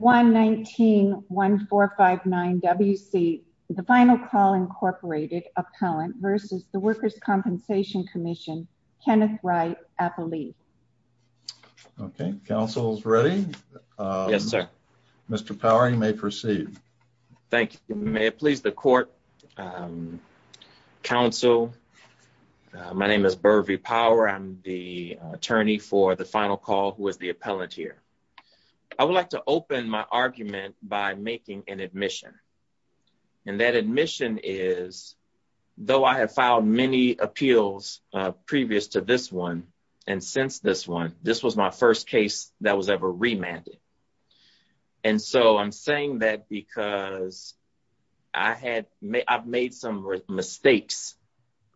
119-1459-WC The Final Call, Inc. Appellant v. The Workers' Compensation Commission Kenneth Wright, Appellee. Okay, counsel's ready. Yes, sir. Mr. Powering may proceed. Thank you. May it please the court, counsel. My name is Burvey Power. I'm the attorney for The Final Call, who is the appellant here. I would like to open my argument by making an admission. And that admission is, though I have filed many appeals previous to this one and since this one, this was my first case that was ever remanded. And so I'm saying that because I've made some mistakes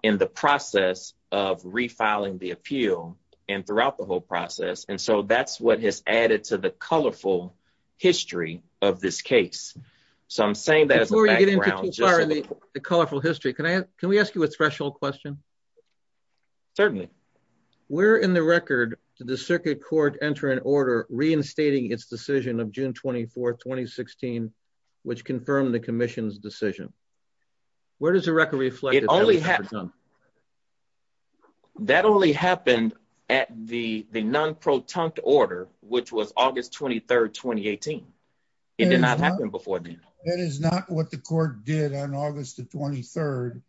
in the process of refiling the appeal and throughout the whole process. And so that's what has added to the colorful history of this case. So I'm saying that as a background. The colorful history. Can we ask you a special question? Certainly. Where in the record did the circuit court enter an order reinstating its decision of non-protunct order? That only happened at the non-protunct order, which was August 23, 2018. It did not happen before then. That is not what the court did on August the 23rd,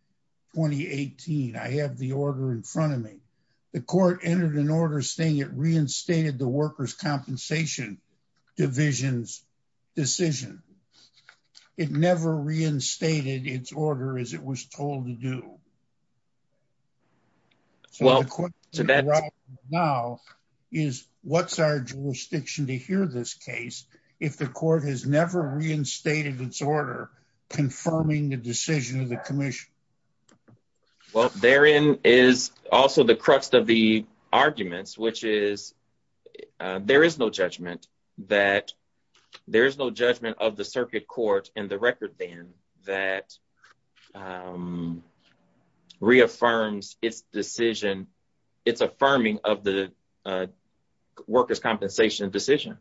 2018. I have the order in front of me. The court entered an order saying it reinstated the order. So the question now is what's our jurisdiction to hear this case if the court has never reinstated its order confirming the decision of the commission? Well, therein is also the crux of the arguments, which is there is no judgment that there is no judgment of the commission that reaffirms its decision. It's affirming of the workers' compensation decision.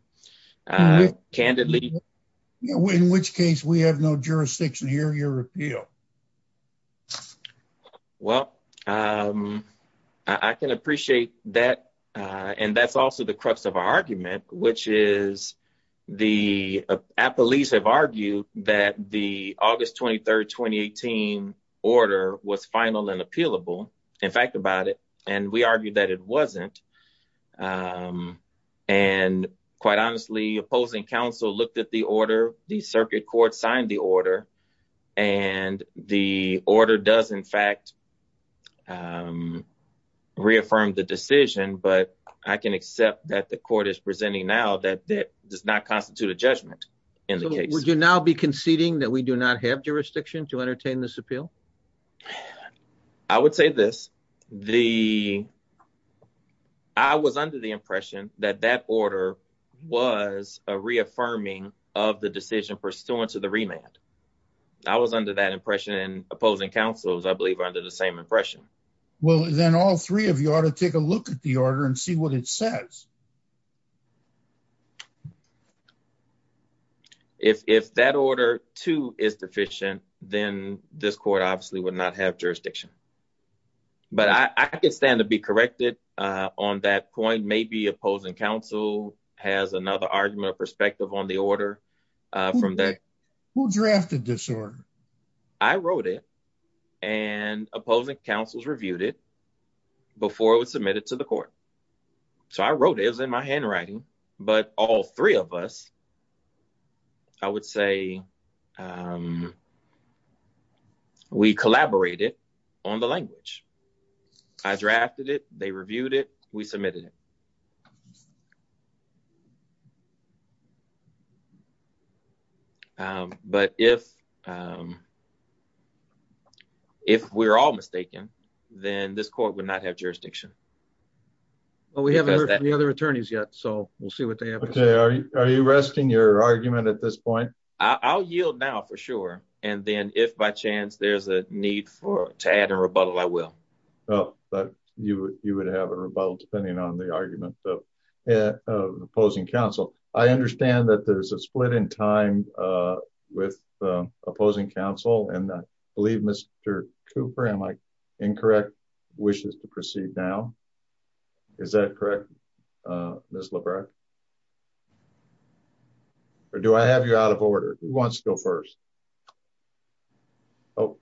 Candidly. In which case we have no jurisdiction to hear your appeal. Well, I can appreciate that. And that's also the crux of our argument, which is the police have argued that the August 23rd, 2018 order was final and appealable. In fact, about it. And we argued that it wasn't. And quite honestly, opposing counsel looked at the order, the circuit court signed the order, and the order does in fact reaffirm the decision. But I can accept that the court is presenting now that that does not constitute a judgment in the case. Would you now be conceding that we do not have jurisdiction to entertain this appeal? I would say this. I was under the impression that that order was a reaffirming of the decision pursuant to the remand. I was under that impression and opposing counsels, I believe, are under the same impression. Well, then all three of you ought to take a look at the order and see what it says. If that order to is deficient, then this court obviously would not have jurisdiction. But I could stand to be corrected on that point. Maybe opposing counsel has another argument perspective on the order from that who drafted disorder. I wrote it and opposing counsels reviewed it before it was submitted to the court. So I wrote it as in my handwriting, but all three of us, I would say we collaborated on the language. I drafted it. They reviewed it. We submitted it. But if we're all mistaken, then this court would not have jurisdiction. Well, we haven't heard from the other attorneys yet, so we'll see what they have to say. Are you resting your argument at this point? I'll yield now for sure. And then if by chance there's a need to add a rebuttal, I will. Oh, but you would have a rebuttal depending on the opposing counsel. I understand that there's a split in time with opposing counsel and I believe Mr. Cooper, am I incorrect, wishes to proceed now? Is that correct, Ms. Lebrecht? Or do I have you out of order? Who wants to go first? Oh,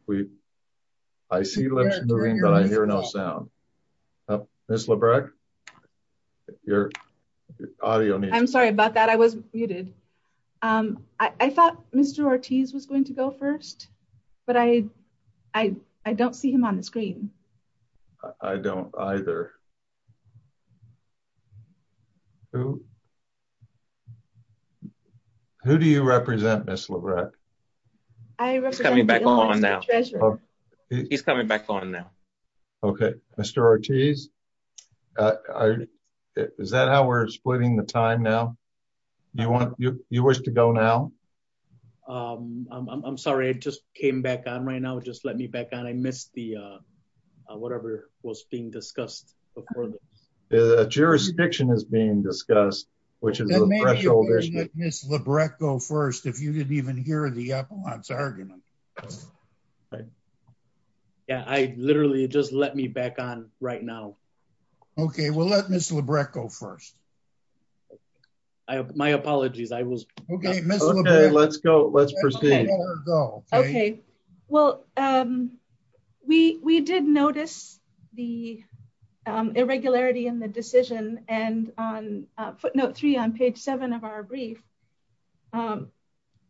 I see lips moving, but I hear no sound. Ms. Lebrecht, your audio. I'm sorry about that. I was muted. I thought Mr. Ortiz was going to go first, but I don't see him on the screen. I don't either. Who do you represent, Ms. Lebrecht? He's coming back on now. Okay, Mr. Ortiz, is that how we're splitting the time now? You wish to go now? I'm sorry, I just came back on right now. Just let me back on. I missed the whatever was being discussed before this. The jurisdiction is being discussed, which is a threshold issue. Ms. Lebrecht go first if you didn't even hear the epilogue's argument. Yeah, I literally just let me back on right now. Okay, we'll let Ms. Lebrecht go first. My apologies. Okay, Ms. Lebrecht, let's go. Let's proceed. Okay, well, we did notice the irregularity in the decision and on footnote three on page seven of our brief,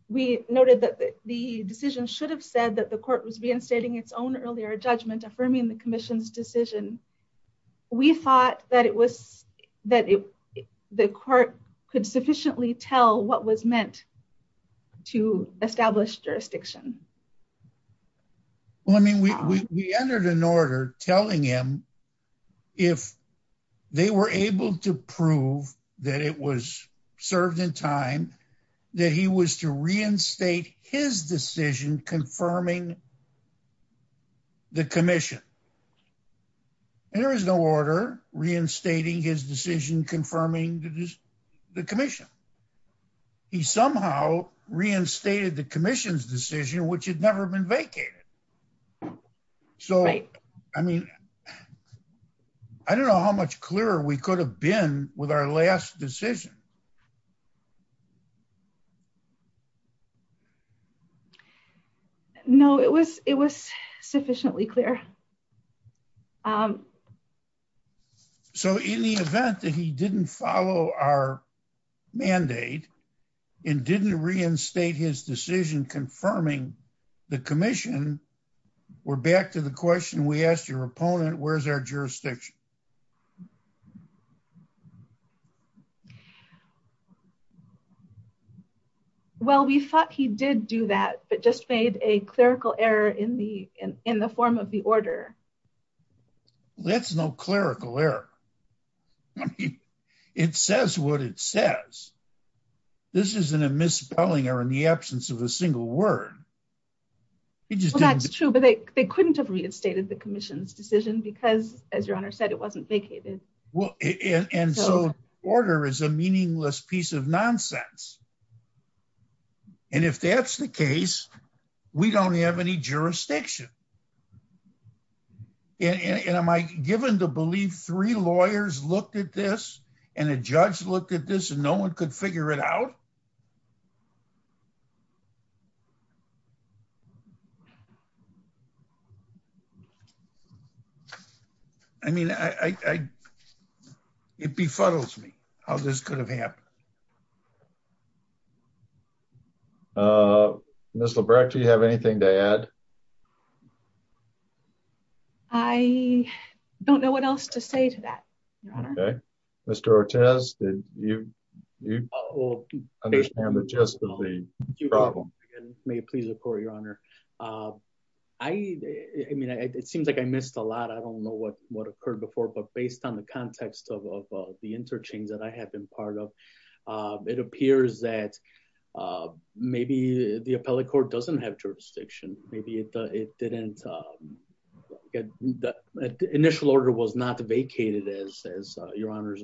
we noted that the decision should have said that the court was reinstating its own earlier judgment affirming the commission's decision. We thought that the court could sufficiently tell what was meant to establish jurisdiction. Well, I mean, we entered an order telling him if they were able to prove that it was served in time that he was to reinstate his decision confirming the commission. There is no order reinstating his decision confirming the commission. He somehow reinstated the commission's decision, which had never been vacated. So, I mean, I don't know how much clearer we could have been with our last decision. No, it was it was sufficiently clear. So in the event that he didn't follow our mandate and didn't reinstate his decision confirming the commission, we're back to the question we asked your opponent, where's our jurisdiction? Well, we thought he did do that, but just made a clerical error in the form of the order. That's no clerical error. It says what it says. This isn't a misspelling or in the absence of a word. That's true, but they couldn't have reinstated the commission's decision because, as your honor said, it wasn't vacated. Well, and so order is a meaningless piece of nonsense. And if that's the case, we don't have any jurisdiction. And am I given to believe three lawyers looked at this and a judge looked at this and no one could figure it out? I mean, I it befuddles me how this could have happened. Uh, Miss Labreck, do you have anything to add? I don't know what else to say to that. Okay, Mr. Ortiz, did you all understand the gist of the problem? May it please the court, your honor? I mean, it seems like I missed a lot. I don't know what what occurred before, but based on the context of the interchange that I have been part of, it appears that maybe the appellate court doesn't have jurisdiction. Maybe it didn't. The initial order was not vacated, as your honor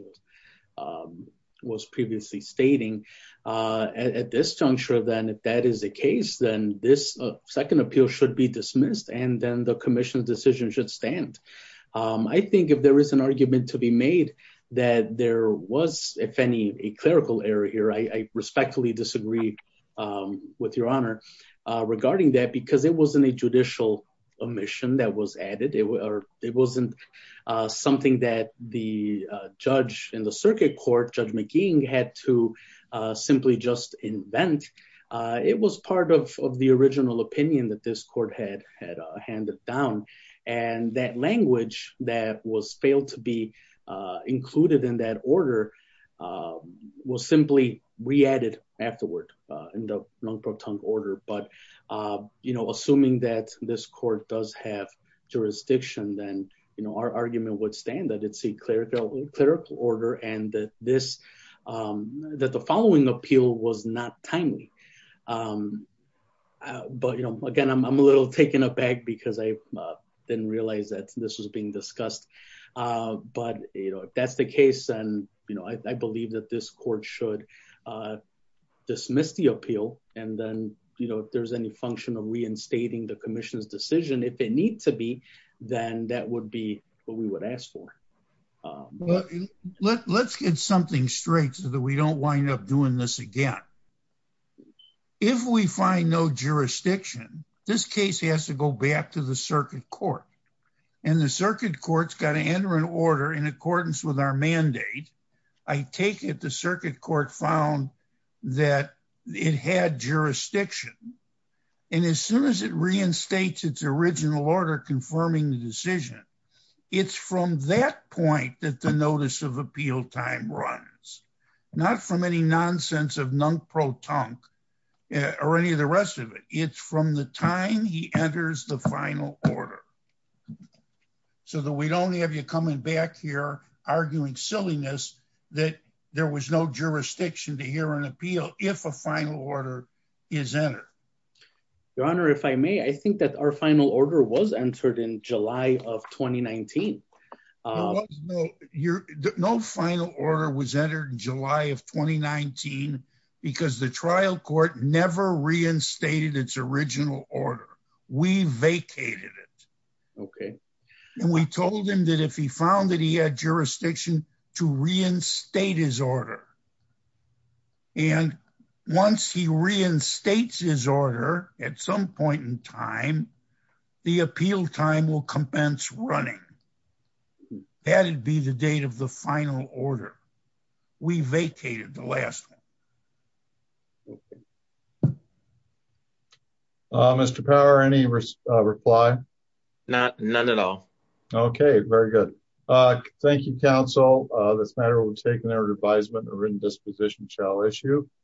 was previously stating at this juncture, then if that is the case, then this second appeal should be dismissed and then the commission's decision should stand. I think if there is an argument to be made that there was, if any, a clerical error here, I respectfully disagree with your honor regarding that because it wasn't a judicial omission that was added. It wasn't something that the judge in the circuit court, Judge McGee had to simply just invent. It was part of the original opinion that this court had handed down and that language that was failed to be included in that order was simply re-added afterward in the Lung Pro Tung order. But assuming that this court does have jurisdiction, then our argument would stand that it's a clerical order and that the following appeal was not timely. But again, I'm a little taken aback because I didn't realize that this was being discussed. But if that's the case, then I believe that this court should dismiss the appeal. And then if there's any function of reinstating the commission's decision, if it needs to be, then that would be what we would ask for. Let's get something straight so that we don't wind up doing this again. If we find no jurisdiction, this case has to go back to the circuit court. And the circuit court's got to enter an order in accordance with our mandate. I take it the circuit court found that it had jurisdiction. And as soon as it reinstates its original order confirming the decision, it's from that point that the notice of appeal time runs, not from any nonsense of Lung Pro Tung or any of the rest of it. It's from the time he enters the final order. So that we'd only have you coming back here arguing silliness that there was no jurisdiction to hear an appeal if a final order is entered. Your Honor, if I may, I think that our final order was entered in July of 2019. There was no final order was entered in July of 2019 because the trial court never reinstated its original order. We vacated it. And we told him that if he found that he had jurisdiction to reinstate his order. And once he reinstates his order at some point in time, the appeal time will compensate running. That'd be the date of the final order. We vacated the last. Mr. Power, any reply? Not none at all. Okay, very good. Thank you, counsel. This matter will take an order of advisement or written disposition shall issue.